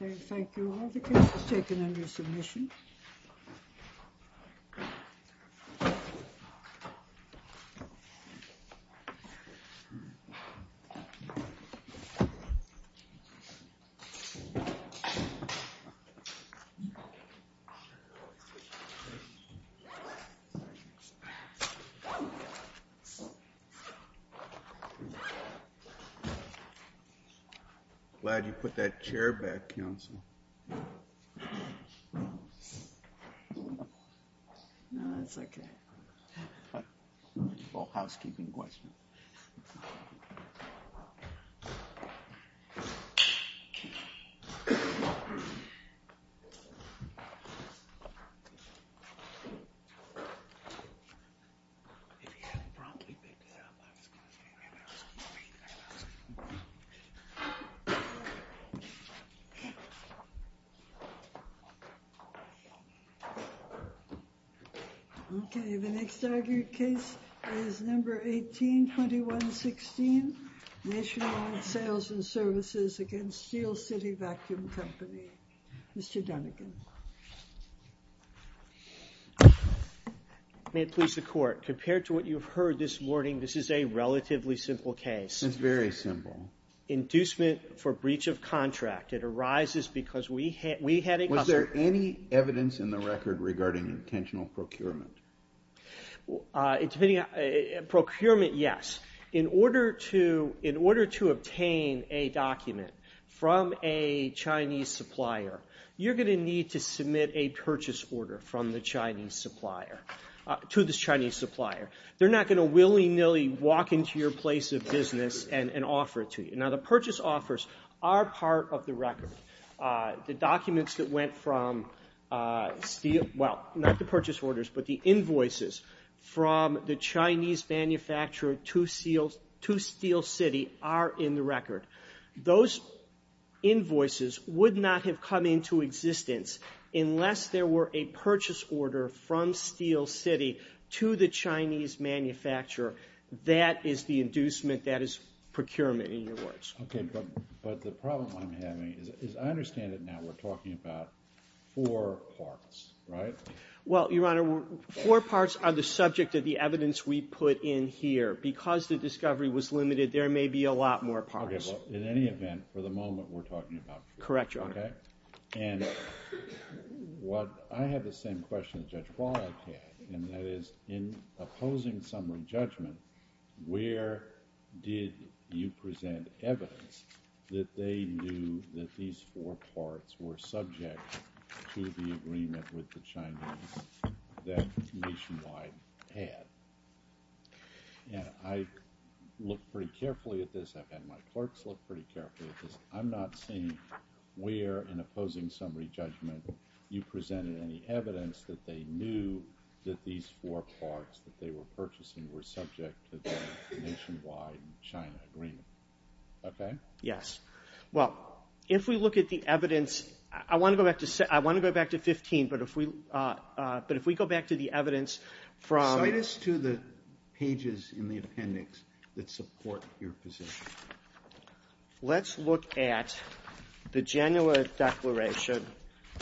Thank you all. The case is taken under submission. I'm glad you put that chair back, Counsel. No, that's okay. Okay, the next argued case is number 182116, Nationwide Sales and Services against Steel City Vacuum Company. Mr. Dunnigan. May it please the court, compared to what you've heard this morning, this is a relatively simple case. It's very simple. Inducement for breach of contract. It arises because we had a customer. Was there any evidence in the record regarding intentional procurement? Procurement, yes. In order to obtain a document from a Chinese supplier, you're going to need to submit a purchase order to this Chinese supplier. They're not going to willy-nilly walk into your place of business and offer it to you. Now, the purchase offers are part of the record. The invoices from the Chinese manufacturer to Steel City are in the record. Those invoices would not have come into existence unless there were a purchase order from Steel City to the Chinese manufacturer. That is the inducement. That is procurement, in your words. Okay, but the problem I'm having is I understand that now we're talking about four parts, right? Well, Your Honor, four parts are the subject of the evidence we put in here. Because the discovery was limited, there may be a lot more parts. Okay, well, in any event, for the moment, we're talking about four parts, okay? Correct, Your Honor. And I have the same question that Judge Wallet had, and that is in opposing summary judgment, where did you present evidence that they knew that these four parts were subject to the agreement with the Chinese that Nationwide had? Yeah, I looked pretty carefully at this. I've had my clerks look pretty carefully at this. I'm not seeing where in opposing summary judgment you presented any evidence that they knew that these four parts that they were purchasing were subject to the Nationwide-China agreement. Okay? Yes. Well, if we look at the evidence, I want to go back to 15, but if we go back to the evidence from cite us to the pages in the appendix that support your position. Let's look at the Genoa Declaration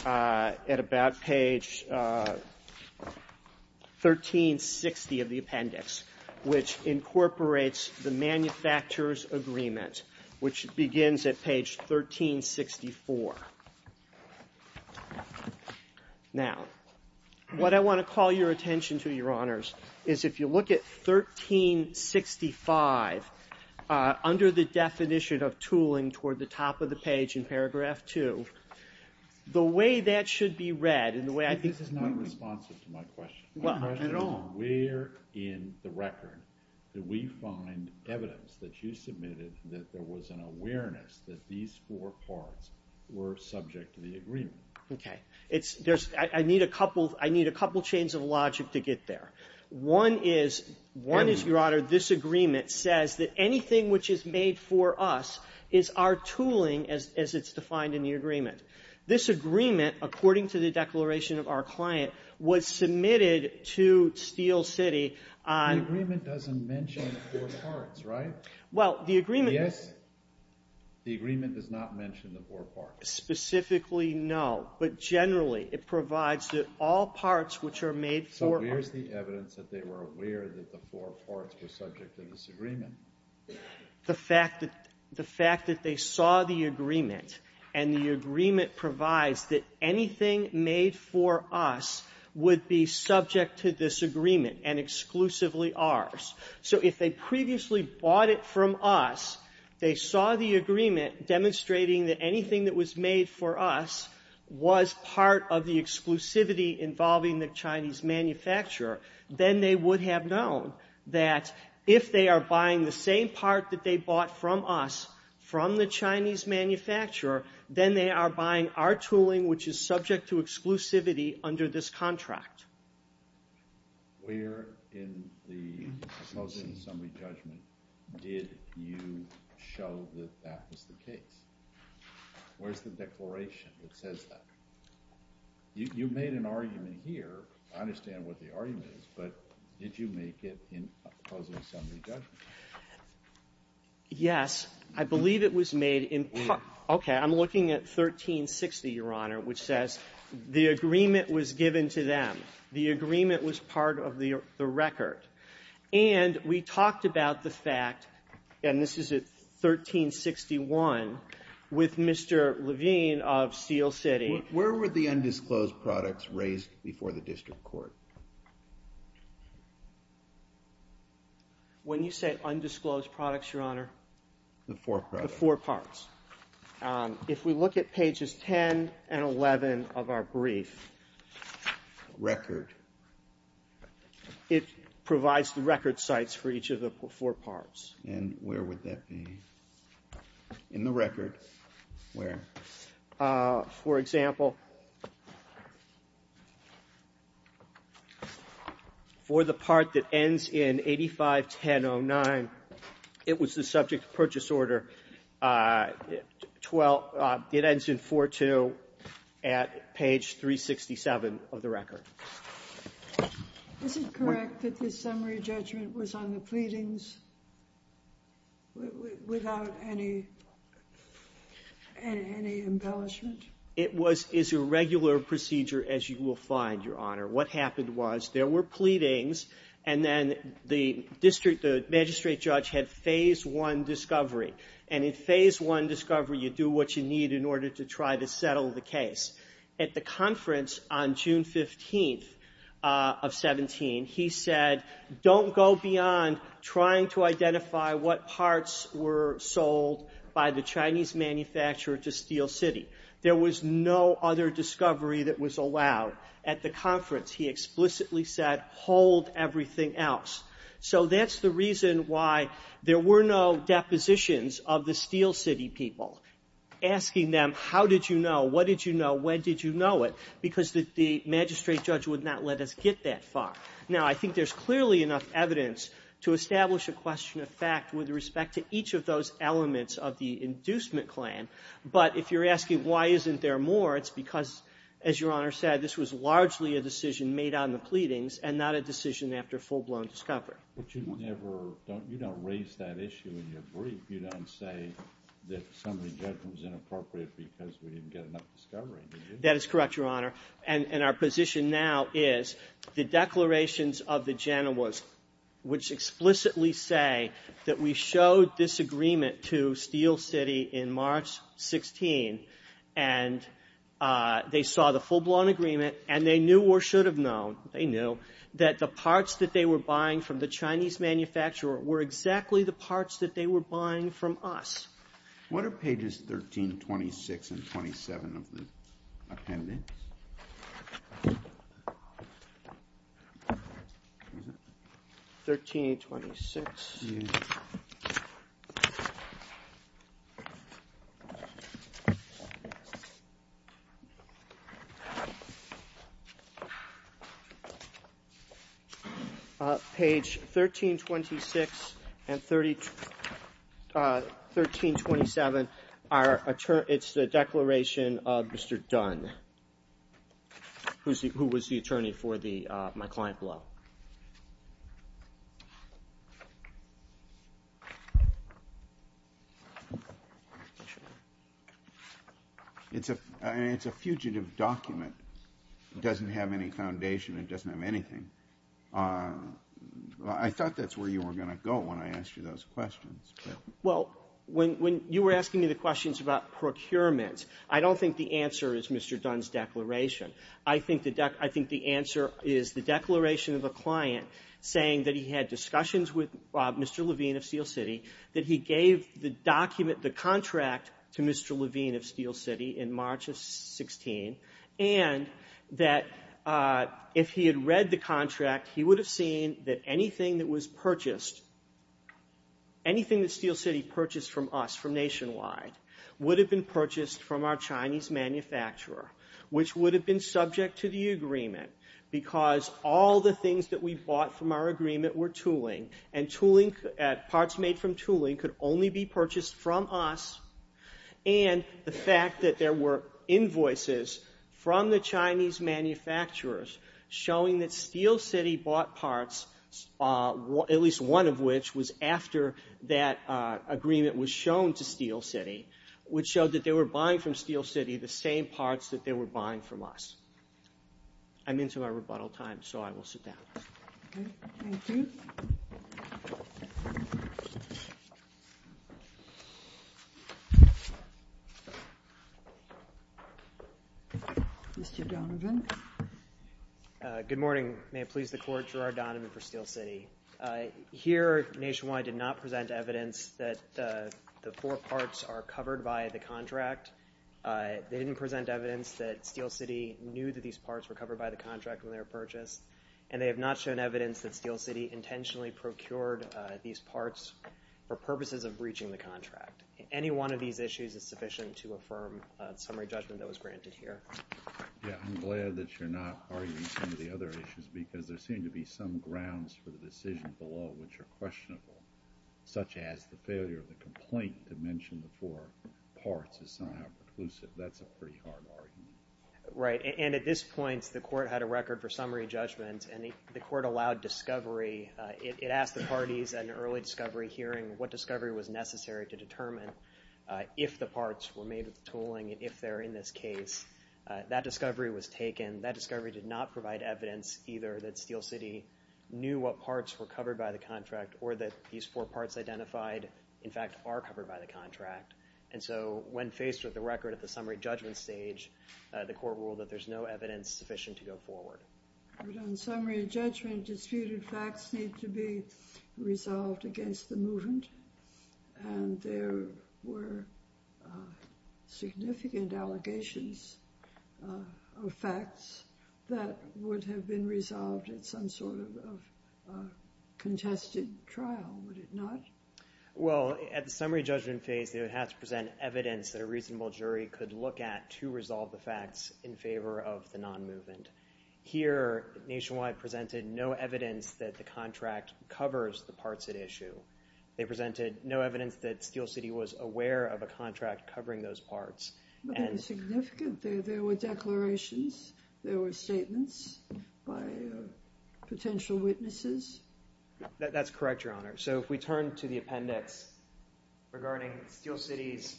at about page 1360 of the appendix, which incorporates the manufacturers' agreement, which begins at page 1364. Now, what I want to call your attention to, Your Honors, is if you look at 1365 under the definition of tooling toward the top of the page in paragraph 2, the way that should be read and the way I think this is not responsive to my question. Well, at all. Where in the record do we find evidence that you submitted that there was an awareness that these four parts were subject to the agreement? Okay. I need a couple chains of logic to get there. One is, Your Honor, this agreement says that anything which is made for us is our tooling as it's defined in the agreement. This agreement, according to the declaration of our client, was submitted to Steel City on – The agreement doesn't mention the four parts, right? Well, the agreement – Yes. The agreement does not mention the four parts. Specifically, no. But generally, it provides that all parts which are made for – So where's the evidence that they were aware that the four parts were subject to this agreement? The fact that they saw the agreement and the agreement provides that anything made for us would be subject to this agreement and exclusively ours. So if they previously bought it from us, they saw the agreement demonstrating that anything that was made for us was part of the exclusivity involving the Chinese manufacturer, then they would have known that if they are buying the same part that they bought from us from the Chinese manufacturer, then they are buying our tooling, which is subject to exclusivity under this contract. Where in the closing and summary judgment did you show that that was the case? Where's the declaration that says that? You made an argument here. I understand what the argument is, but did you make it in closing and summary judgment? Yes. I believe it was made in – Okay. I'm looking at 1360, Your Honor, which says the agreement was given to them. The agreement was part of the record. And we talked about the fact, and this is at 1361, with Mr. Levine of Seal City. Where were the undisclosed products raised before the district court? When you say undisclosed products, Your Honor? The four products. The four parts. If we look at pages 10 and 11 of our brief. Record. It provides the record sites for each of the four parts. And where would that be in the record? Where? For example, for the part that ends in 851009, it was the subject purchase order. It ends in 4-2 at page 367 of the record. Is it correct that the summary judgment was on the pleadings without any embellishment? It is a regular procedure, as you will find, Your Honor. What happened was there were pleadings, and then the magistrate judge had Phase I discovery. And in Phase I discovery, you do what you need in order to try to settle the case. At the conference on June 15th of 17, he said, Don't go beyond trying to identify what parts were sold by the Chinese manufacturer to Steel City. There was no other discovery that was allowed at the conference. He explicitly said, Hold everything else. So that's the reason why there were no depositions of the Steel City people. Asking them, How did you know? What did you know? When did you know it? Because the magistrate judge would not let us get that far. Now, I think there's clearly enough evidence to establish a question of fact with respect to each of those elements of the inducement claim. But if you're asking why isn't there more, it's because, as Your Honor said, this was largely a decision made on the pleadings and not a decision after full-blown discovery. But you don't raise that issue in your brief. You don't say that summary judgment was inappropriate because we didn't get enough discovery, do you? That is correct, Your Honor. And our position now is the declarations of the Genovese, which explicitly say that we showed this agreement to Steel City in March 16, and they saw the full-blown agreement, and they knew or should have known, they knew, that the parts that they were buying from the Chinese manufacturer were exactly the parts that they were buying from us. What are pages 13, 26, and 27 of the appendix? 13 and 26. Page 13, 26 and 13, 27, it's the declaration of Mr. Dunn, who was the attorney for my client Blow. And it's a fugitive document. It doesn't have any foundation. It doesn't have anything. I thought that's where you were going to go when I asked you those questions. Well, when you were asking me the questions about procurement, I don't think the answer is Mr. Dunn's declaration. I think the answer is the declaration of a client saying that he had discussions with Mr. Levine of Steel City, that he gave the document, the contract, to Mr. Levine of Steel City in March of 16, and that if he had read the contract, he would have seen that anything that was purchased, anything that Steel City purchased from us, from Nationwide, would have been purchased from our Chinese manufacturer, which would have been subject to the agreement because all the things that we bought from our agreement were tooling, and parts made from tooling could only be purchased from us, and the fact that there were invoices from the Chinese manufacturers showing that Steel City bought parts, at least one of which was after that agreement was shown to Steel City, which showed that they were buying from Steel City the same parts that they were buying from us. I'm into our rebuttal time, so I will sit down. Okay. Thank you. Mr. Donovan. Good morning. May it please the Court, Gerard Donovan for Steel City. Here, Nationwide did not present evidence that the four parts are covered by the contract. They didn't present evidence that Steel City knew that these parts were covered by the contract when they were purchased, and they have not shown evidence that Steel City intentionally procured these parts for purposes of breaching the contract. Any one of these issues is sufficient to affirm the summary judgment that was granted here. Yeah, I'm glad that you're not arguing some of the other issues because there seem to be some grounds for the decision below which are questionable, such as the failure of the complaint to mention the four parts is somehow preclusive. That's a pretty hard argument. Right, and at this point, the Court had a record for summary judgment, and the Court allowed discovery. It asked the parties at an early discovery hearing what discovery was necessary to determine if the parts were made with tooling and if they're in this case. That discovery was taken. That discovery did not provide evidence either that Steel City knew what parts were covered by the contract or that these four parts identified, in fact, are covered by the contract. And so when faced with the record at the summary judgment stage, the Court ruled that there's no evidence sufficient to go forward. But on summary judgment, disputed facts need to be resolved against the movement, and there were significant allegations of facts that would have been resolved at some sort of contested trial, would it not? Well, at the summary judgment phase, they would have to present evidence that a reasonable jury could look at to resolve the facts in favor of the non-movement. Here, Nationwide presented no evidence that the contract covers the parts at issue. They presented no evidence that Steel City was aware of a contract covering those parts. But they were significant. There were declarations. There were statements by potential witnesses. That's correct, Your Honor. So if we turn to the appendix regarding Steel City's,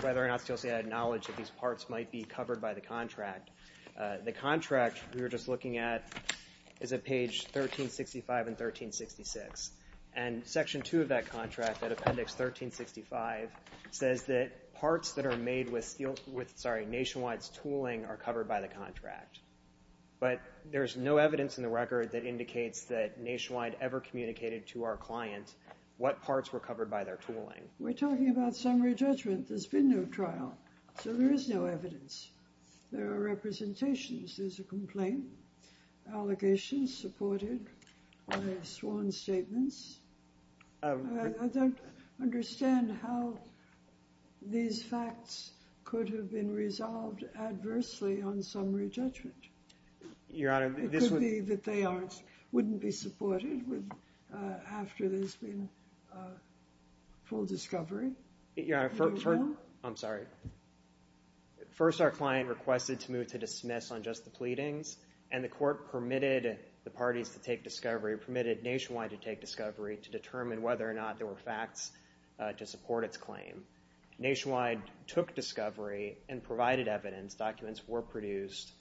whether or not Steel City had knowledge that these parts might be covered by the contract, the contract we were just looking at is at page 1365 and 1366. And section 2 of that contract, at appendix 1365, says that parts that are made with Nationwide's tooling are covered by the contract. But there's no evidence in the record that indicates that Nationwide ever communicated to our client what parts were covered by their tooling. We're talking about summary judgment. There's been no trial, so there is no evidence. There are representations. There's a complaint, allegations supported by sworn statements. I don't understand how these facts could have been resolved adversely on summary judgment. Your Honor, this would be that they wouldn't be supported after there's been full discovery. Your Honor, I'm sorry. First, our client requested to move to dismiss on just the pleadings, and the court permitted the parties to take discovery, permitted Nationwide to take discovery, to determine whether or not there were facts to support its claim. Nationwide took discovery and provided evidence. Documents were produced.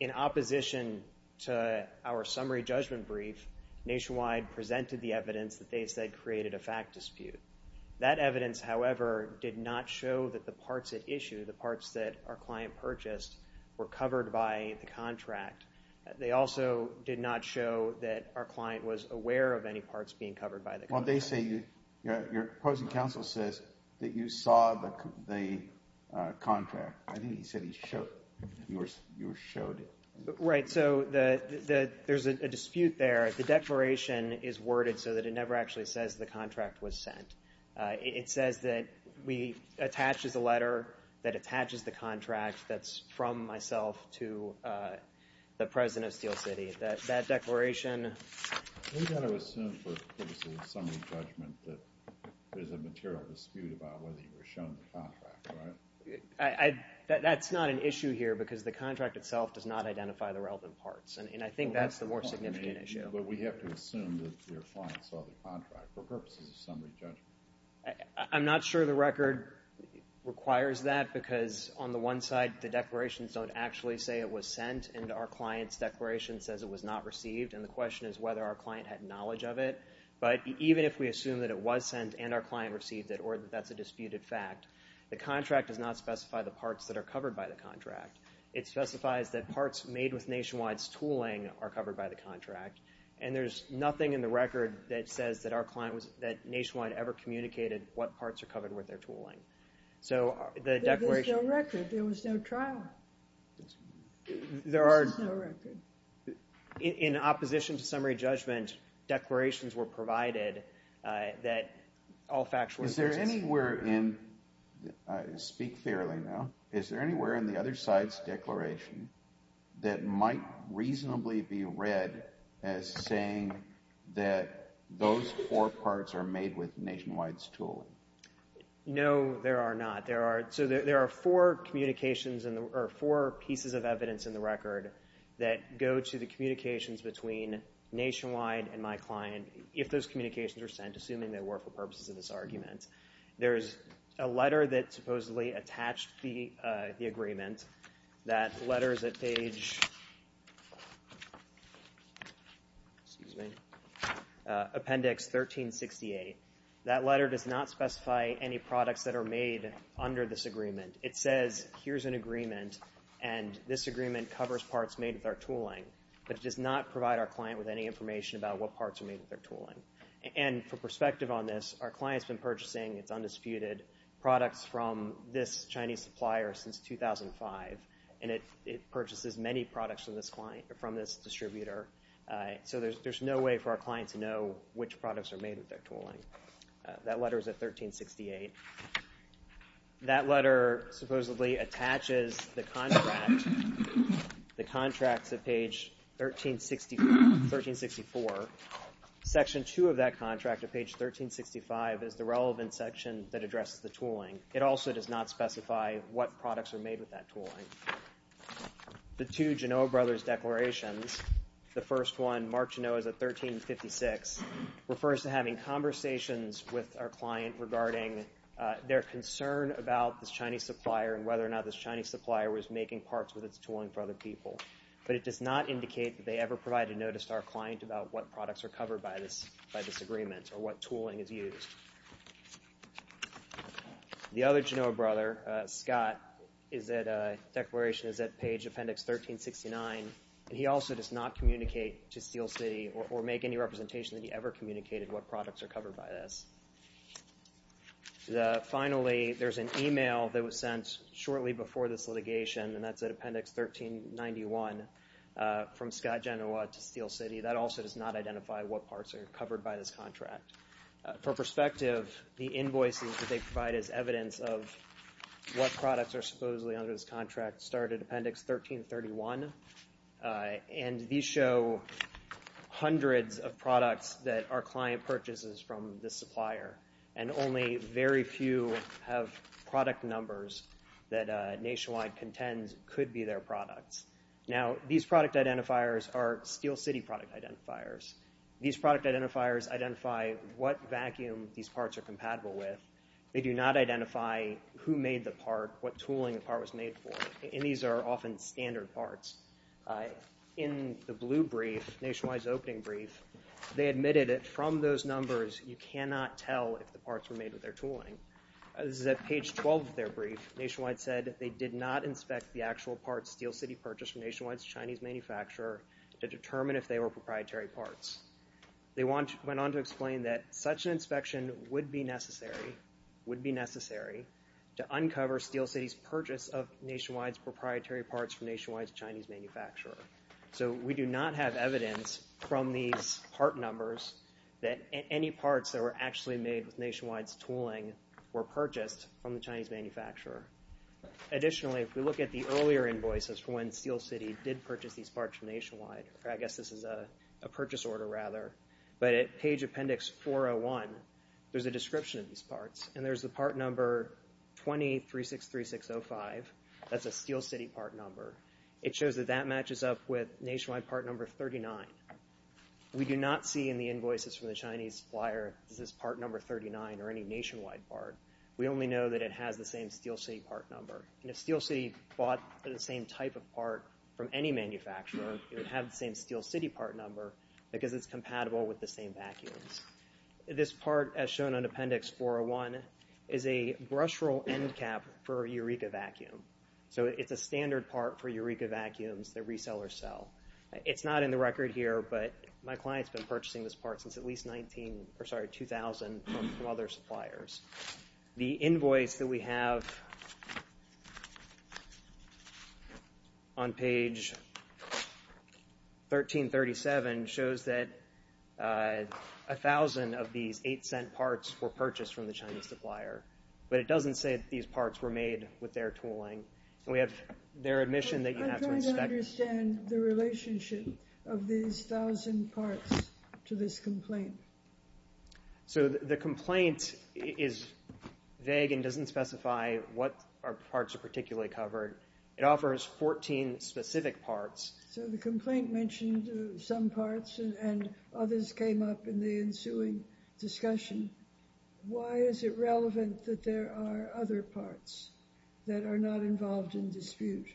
In opposition to our summary judgment brief, Nationwide presented the evidence that they said created a fact dispute. That evidence, however, did not show that the parts it issued, the parts that our client purchased, were covered by the contract. They also did not show that our client was aware of any parts being covered by the contract. Your opposing counsel says that you saw the contract. I think he said you showed it. Right, so there's a dispute there. The declaration is worded so that it never actually says the contract was sent. It says that we attach as a letter that attaches the contract that's from myself to the president of Steel City. That declaration. We've got to assume for a summary judgment that there's a material dispute about whether you were shown the contract, right? That's not an issue here because the contract itself does not identify the relevant parts, and I think that's the more significant issue. But we have to assume that your client saw the contract for purposes of summary judgment. I'm not sure the record requires that because on the one side, the declarations don't actually say it was sent and our client's declaration says it was not received, and the question is whether our client had knowledge of it. But even if we assume that it was sent and our client received it or that that's a disputed fact, the contract does not specify the parts that are covered by the contract. It specifies that parts made with Nationwide's tooling are covered by the contract, and there's nothing in the record that says that Nationwide ever communicated what parts are covered with their tooling. So the declaration. There was no record. There was no trial. There are. There's no record. In opposition to summary judgment, declarations were provided that all factual. Is there anywhere in, speak fairly now, is there anywhere in the other side's declaration that might reasonably be read as saying that those four parts are made with Nationwide's tooling? No, there are not. So there are four communications or four pieces of evidence in the record that go to the communications between Nationwide and my client if those communications were sent, assuming they were for purposes of this argument. There is a letter that supposedly attached the agreement. That letter is at page, excuse me, appendix 1368. That letter does not specify any products that are made under this agreement. It says here's an agreement, and this agreement covers parts made with our tooling, but it does not provide our client with any information about what parts are made with our tooling. And for perspective on this, our client's been purchasing, it's undisputed, products from this Chinese supplier since 2005, and it purchases many products from this distributor. So there's no way for our client to know which products are made with their tooling. That letter is at 1368. That letter supposedly attaches the contract, the contracts at page 1364. Section 2 of that contract at page 1365 is the relevant section that addresses the tooling. It also does not specify what products are made with that tooling. The two Genoa Brothers declarations, the first one marked Genoa as a 1356, refers to having conversations with our client regarding their concern about this Chinese supplier and whether or not this Chinese supplier was making parts with its tooling for other people. But it does not indicate that they ever provided notice to our client about what products are covered by this agreement or what tooling is used. The other Genoa Brother, Scott, is at a declaration that's at page appendix 1369, and he also does not communicate to Steel City or make any representation that he ever communicated what products are covered by this. Finally, there's an e-mail that was sent shortly before this litigation, and that's at appendix 1391 from Scott Genoa to Steel City. That also does not identify what parts are covered by this contract. For perspective, the invoices that they provide as evidence of what products are supposedly under this contract start at appendix 1331, and these show hundreds of products that our client purchases from this supplier, and only very few have product numbers that Nationwide contends could be their products. Now, these product identifiers are Steel City product identifiers. These product identifiers identify what vacuum these parts are compatible with. They do not identify who made the part, what tooling the part was made for, and these are often standard parts. In the blue brief, Nationwide's opening brief, they admitted that from those numbers, you cannot tell if the parts were made with their tooling. This is at page 12 of their brief. Nationwide said they did not inspect the actual parts Steel City purchased from Nationwide's Chinese manufacturer to determine if they were proprietary parts. They went on to explain that such an inspection would be necessary to uncover Steel City's purchase of Nationwide's proprietary parts from Nationwide's Chinese manufacturer. So we do not have evidence from these part numbers that any parts that were actually made with Nationwide's tooling were purchased from the Chinese manufacturer. Additionally, if we look at the earlier invoices from when Steel City did purchase these parts from Nationwide, I guess this is a purchase order rather, but at page appendix 401, there's a description of these parts, and there's the part number 20363605. That's a Steel City part number. It shows that that matches up with Nationwide part number 39. We do not see in the invoices from the Chinese supplier that this is part number 39 or any Nationwide part. We only know that it has the same Steel City part number. If Steel City bought the same type of part from any manufacturer, it would have the same Steel City part number because it's compatible with the same vacuums. This part, as shown on appendix 401, is a brushroll end cap for a Eureka vacuum. So it's a standard part for Eureka vacuums that resellers sell. It's not in the record here, but my client's been purchasing this part since at least 2000 from other suppliers. The invoice that we have on page 1337 shows that 1,000 of these $0.08 parts were purchased from the Chinese supplier, but it doesn't say that these parts were made with their tooling. We have their admission that you have to inspect. I'm trying to understand the relationship of these 1,000 parts to this complaint. So the complaint is vague and doesn't specify what parts are particularly covered. It offers 14 specific parts. So the complaint mentioned some parts and others came up in the ensuing discussion. Why is it relevant that there are other parts that are not involved in dispute?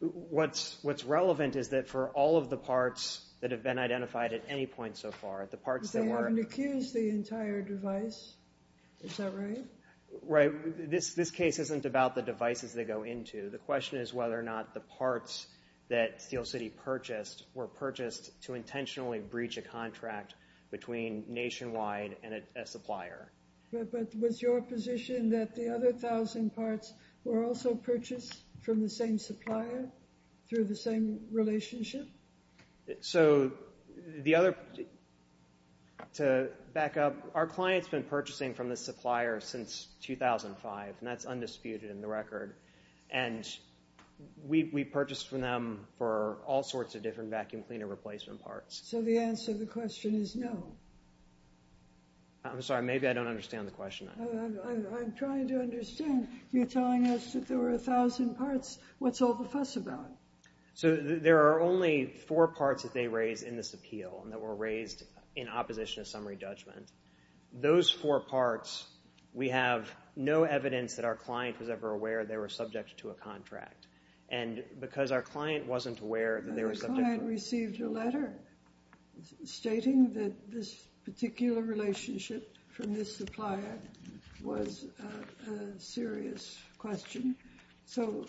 What's relevant is that for all of the parts that have been identified at any point so far, the parts that were— But they haven't accused the entire device. Is that right? Right. This case isn't about the devices they go into. The question is whether or not the parts that Steel City purchased were purchased to intentionally breach a contract between Nationwide and a supplier. But was your position that the other 1,000 parts were also purchased from the same supplier through the same relationship? So the other—to back up, our client's been purchasing from this supplier since 2005, and that's undisputed in the record. And we purchased from them for all sorts of different vacuum cleaner replacement parts. So the answer to the question is no. I'm sorry. Maybe I don't understand the question. I'm trying to understand. You're telling us that there were 1,000 parts. What's all the fuss about? So there are only four parts that they raise in this appeal and that were raised in opposition to summary judgment. Those four parts, we have no evidence that our client was ever aware they were subject to a contract. And because our client wasn't aware that they were subject to— Our client received a letter stating that this particular relationship from this supplier was a serious question. So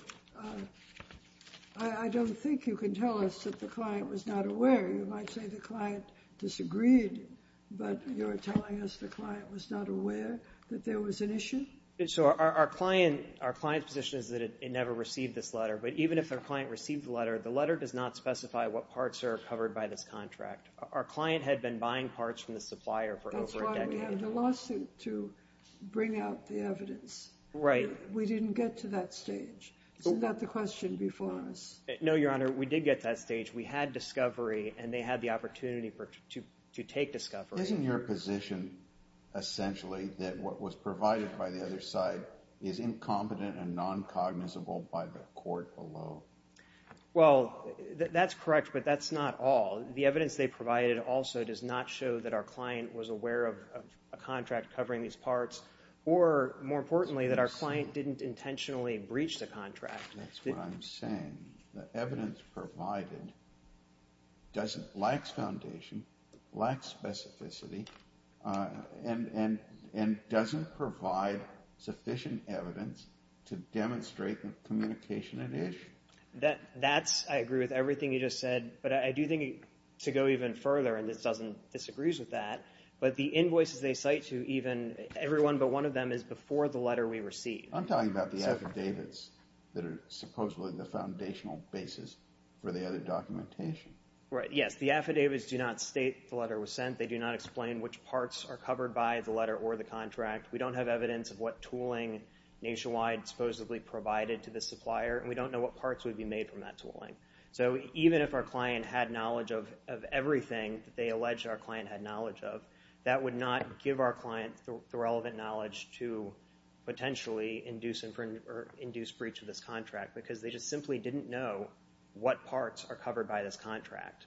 I don't think you can tell us that the client was not aware. You might say the client disagreed, but you're telling us the client was not aware that there was an issue? So our client's position is that it never received this letter. But even if the client received the letter, the letter does not specify what parts are covered by this contract. Our client had been buying parts from the supplier for over a decade. That's why we have the lawsuit to bring out the evidence. Right. We didn't get to that stage. Isn't that the question before us? No, Your Honor, we did get to that stage. We had discovery and they had the opportunity to take discovery. Isn't your position essentially that what was provided by the other side is incompetent and non-cognizable by the court below? Well, that's correct, but that's not all. The evidence they provided also does not show that our client was aware of a contract covering these parts. Or, more importantly, that our client didn't intentionally breach the contract. That's what I'm saying. The evidence provided lacks foundation, lacks specificity, and doesn't provide sufficient evidence to demonstrate the communication at issue. That's – I agree with everything you just said. But I do think to go even further, and this doesn't – this agrees with that, but the invoices they cite to even everyone but one of them is before the letter we received. I'm talking about the affidavits that are supposedly the foundational basis for the other documentation. Right, yes. The affidavits do not state the letter was sent. They do not explain which parts are covered by the letter or the contract. We don't have evidence of what tooling Nationwide supposedly provided to the supplier, and we don't know what parts would be made from that tooling. So even if our client had knowledge of everything that they allege our client had knowledge of, that would not give our client the relevant knowledge to potentially induce breach of this contract because they just simply didn't know what parts are covered by this contract.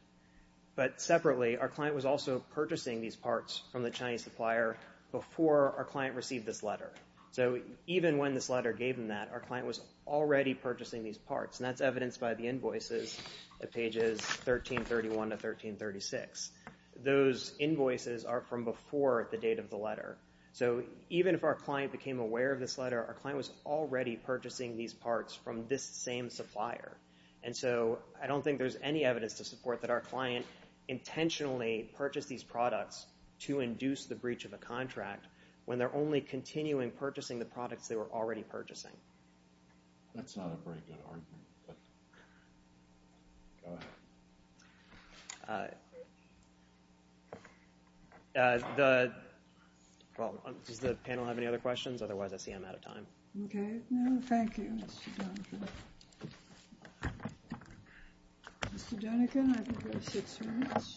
But separately, our client was also purchasing these parts from the Chinese supplier before our client received this letter. So even when this letter gave them that, our client was already purchasing these parts, and that's evidenced by the invoices at pages 1331 to 1336. Those invoices are from before the date of the letter. So even if our client became aware of this letter, our client was already purchasing these parts from this same supplier. And so I don't think there's any evidence to support that our client intentionally purchased these products to induce the breach of a contract when they're only continuing purchasing the products they were already purchasing. That's not a very good argument, but go ahead. Does the panel have any other questions? Otherwise, I see I'm out of time. Okay. No, thank you, Mr. Donegan. Mr. Donegan, I think you have six minutes.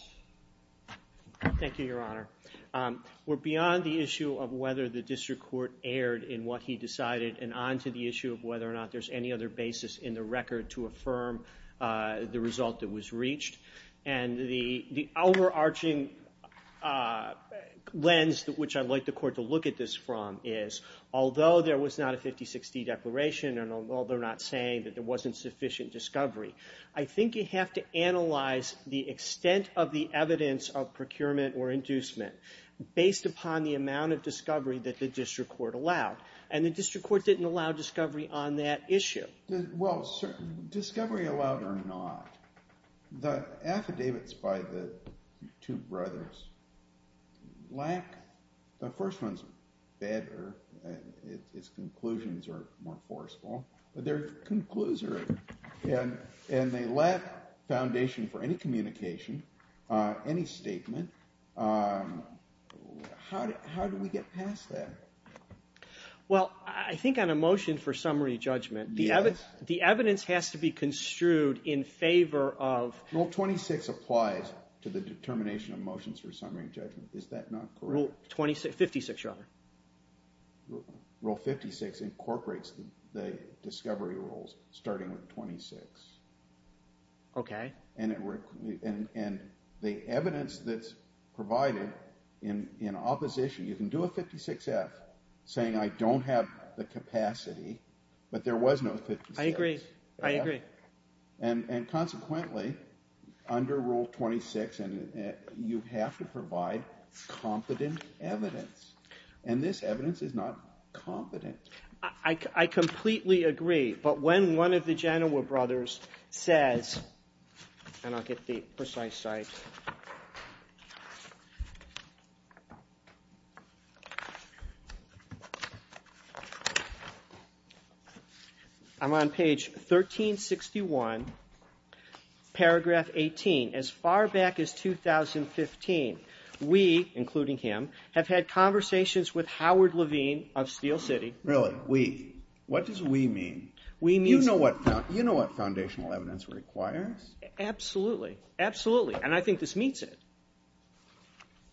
Thank you, Your Honor. We're beyond the issue of whether the district court erred in what he decided and on to the issue of whether or not there's any other basis in the record to affirm the result that was reached. And the overarching lens which I'd like the court to look at this from is, although there was not a 50-60 declaration and although they're not saying that there wasn't sufficient discovery, I think you have to analyze the extent of the evidence of procurement or inducement based upon the amount of discovery that the district court allowed. And the district court didn't allow discovery on that issue. Well, discovery allowed or not, the affidavits by the two brothers lack. The first one's better. Its conclusions are more forceful. But their conclusions are, and they lack foundation for any communication, any statement. How do we get past that? Well, I think on a motion for summary judgment, the evidence has to be construed in favor of... Rule 26 applies to the determination of motions for summary judgment. Is that not correct? Rule 56, Your Honor. Rule 56 incorporates the discovery rules starting with 26. Okay. And the evidence that's provided in opposition, you can do a 56-F saying I don't have the capacity, but there was no 56-F. I agree. I agree. And consequently, under Rule 26, you have to provide competent evidence. And this evidence is not competent. I completely agree. But when one of the Genoa brothers says, and I'll get the precise site. I'm on page 1361, paragraph 18. As far back as 2015, we, including him, have had conversations with Howard Levine of Steel City. Really? We? What does we mean? We mean... You know what foundational evidence requires? Absolutely. Absolutely. And I think this meets it.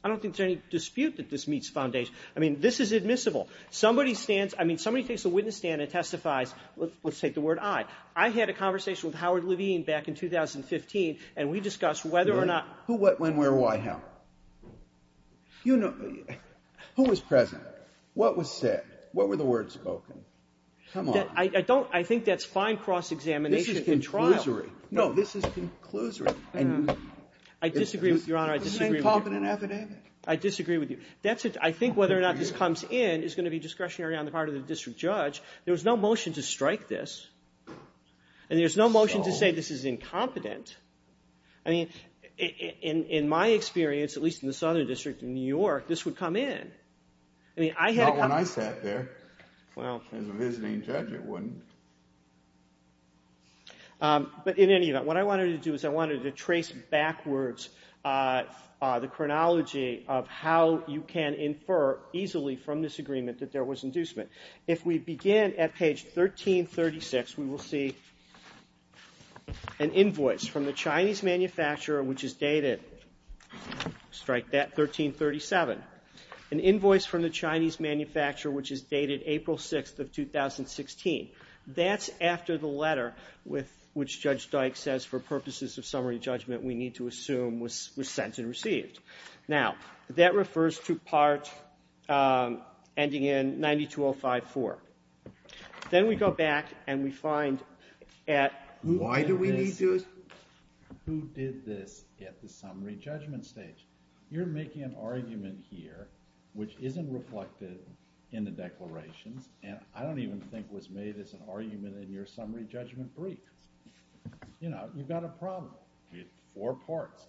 I don't think there's any dispute that this meets foundation. I mean, this is admissible. Somebody stands, I mean, somebody takes a witness stand and testifies. Let's take the word I. I had a conversation with Howard Levine back in 2015, and we discussed whether or not... Who, what, when, where, why, how? You know, who was present? What was said? What were the words spoken? Come on. I don't, I think that's fine cross-examination in trial. This is conclusory. No, this is conclusory. I disagree with you, Your Honor. It's the same confident affidavit. I disagree with you. That's it. I think whether or not this comes in is going to be discretionary on the part of the district judge. There was no motion to strike this, and there's no motion to say this is incompetent. I mean, in my experience, at least in the Southern District in New York, this would come in. I mean, I had a... Not when I sat there. Well... As a visiting judge, it wouldn't. But in any event, what I wanted to do is I wanted to trace backwards the chronology of how you can infer easily from this agreement that there was inducement. If we begin at page 1336, we will see an invoice from the Chinese manufacturer which is dated, strike that, 1337. An invoice from the Chinese manufacturer which is dated April 6th of 2016. That's after the letter which Judge Dyke says for purposes of summary judgment we need to assume was sent and received. Now, that refers to part ending in 92054. Then we go back and we find at... Why do we need to... Who did this at the summary judgment stage? You're making an argument here which isn't reflected in the declarations. And I don't even think was made as an argument in your summary judgment brief. You know, you've got a problem. Four parts.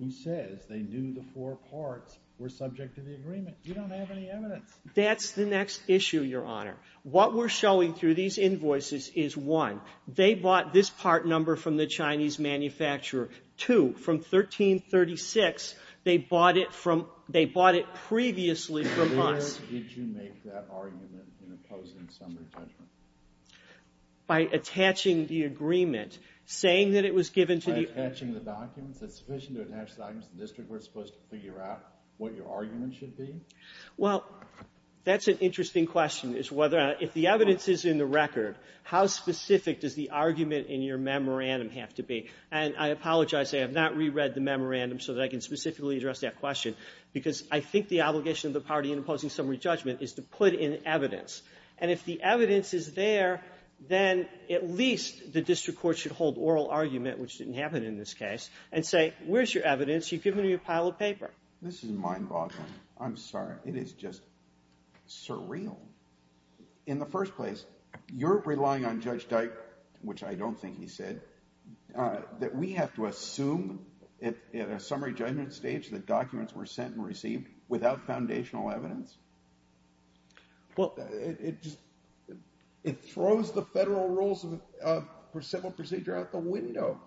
Who says they knew the four parts were subject to the agreement? You don't have any evidence. That's the next issue, Your Honor. What we're showing through these invoices is, one, they bought this part number from the Chinese manufacturer. Two, from 1336, they bought it previously from us. Where did you make that argument in opposing summary judgment? By attaching the agreement, saying that it was given to the... By attaching the documents? Is it sufficient to attach the documents to the district where it's supposed to figure out what your argument should be? Well, that's an interesting question. If the evidence is in the record, how specific does the argument in your memorandum have to be? And I apologize. I have not reread the memorandum so that I can specifically address that question, because I think the obligation of the party in opposing summary judgment is to put in evidence. And if the evidence is there, then at least the district court should hold oral argument, which didn't happen in this case, and say, where's your evidence? You've given me a pile of paper. This is mind-boggling. I'm sorry. It is just surreal. In the first place, you're relying on Judge Dike, which I don't think he said, that we have to assume at a summary judgment stage that documents were sent and received without foundational evidence? It throws the federal rules of civil procedure out the window.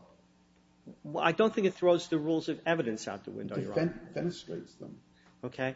I don't think it throws the rules of evidence out the window, Your Honor. It defenestrates them. Okay?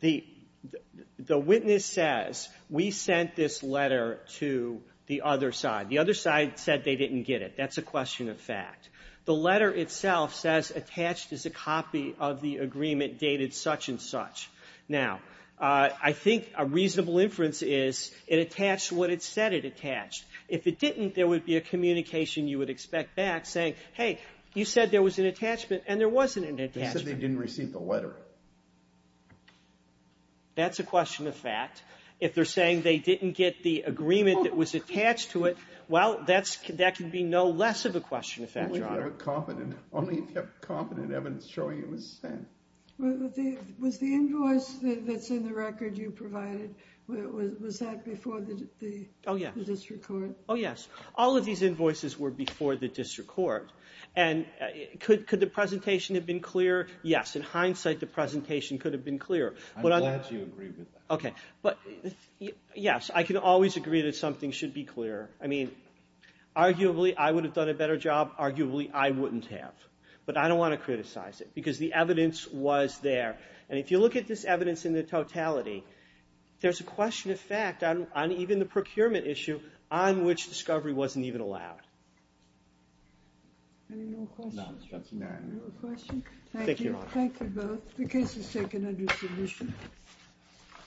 The witness says, we sent this letter to the other side. The other side said they didn't get it. That's a question of fact. The letter itself says, attached is a copy of the agreement dated such and such. Now, I think a reasonable inference is it attached what it said it attached. If it didn't, there would be a communication you would expect back saying, hey, you said there was an attachment, and there wasn't an attachment. They said they didn't receive the letter. That's a question of fact. If they're saying they didn't get the agreement that was attached to it, well, that can be no less of a question of fact, Your Honor. Only if you have competent evidence showing it was sent. Was the invoice that's in the record you provided, was that before the district court? Oh, yes. All of these invoices were before the district court. And could the presentation have been clearer? Yes. In hindsight, the presentation could have been clearer. I'm glad you agree with that. Okay. But, yes, I can always agree that something should be clearer. I mean, arguably, I would have done a better job. Arguably, I wouldn't have. But I don't want to criticize it because the evidence was there. And if you look at this evidence in the totality, there's a question of fact on even the procurement issue on which discovery wasn't even allowed. Any more questions? No, Ms. Johnson. Any more questions? Thank you, Your Honor. Thank you both. The case is taken under submission.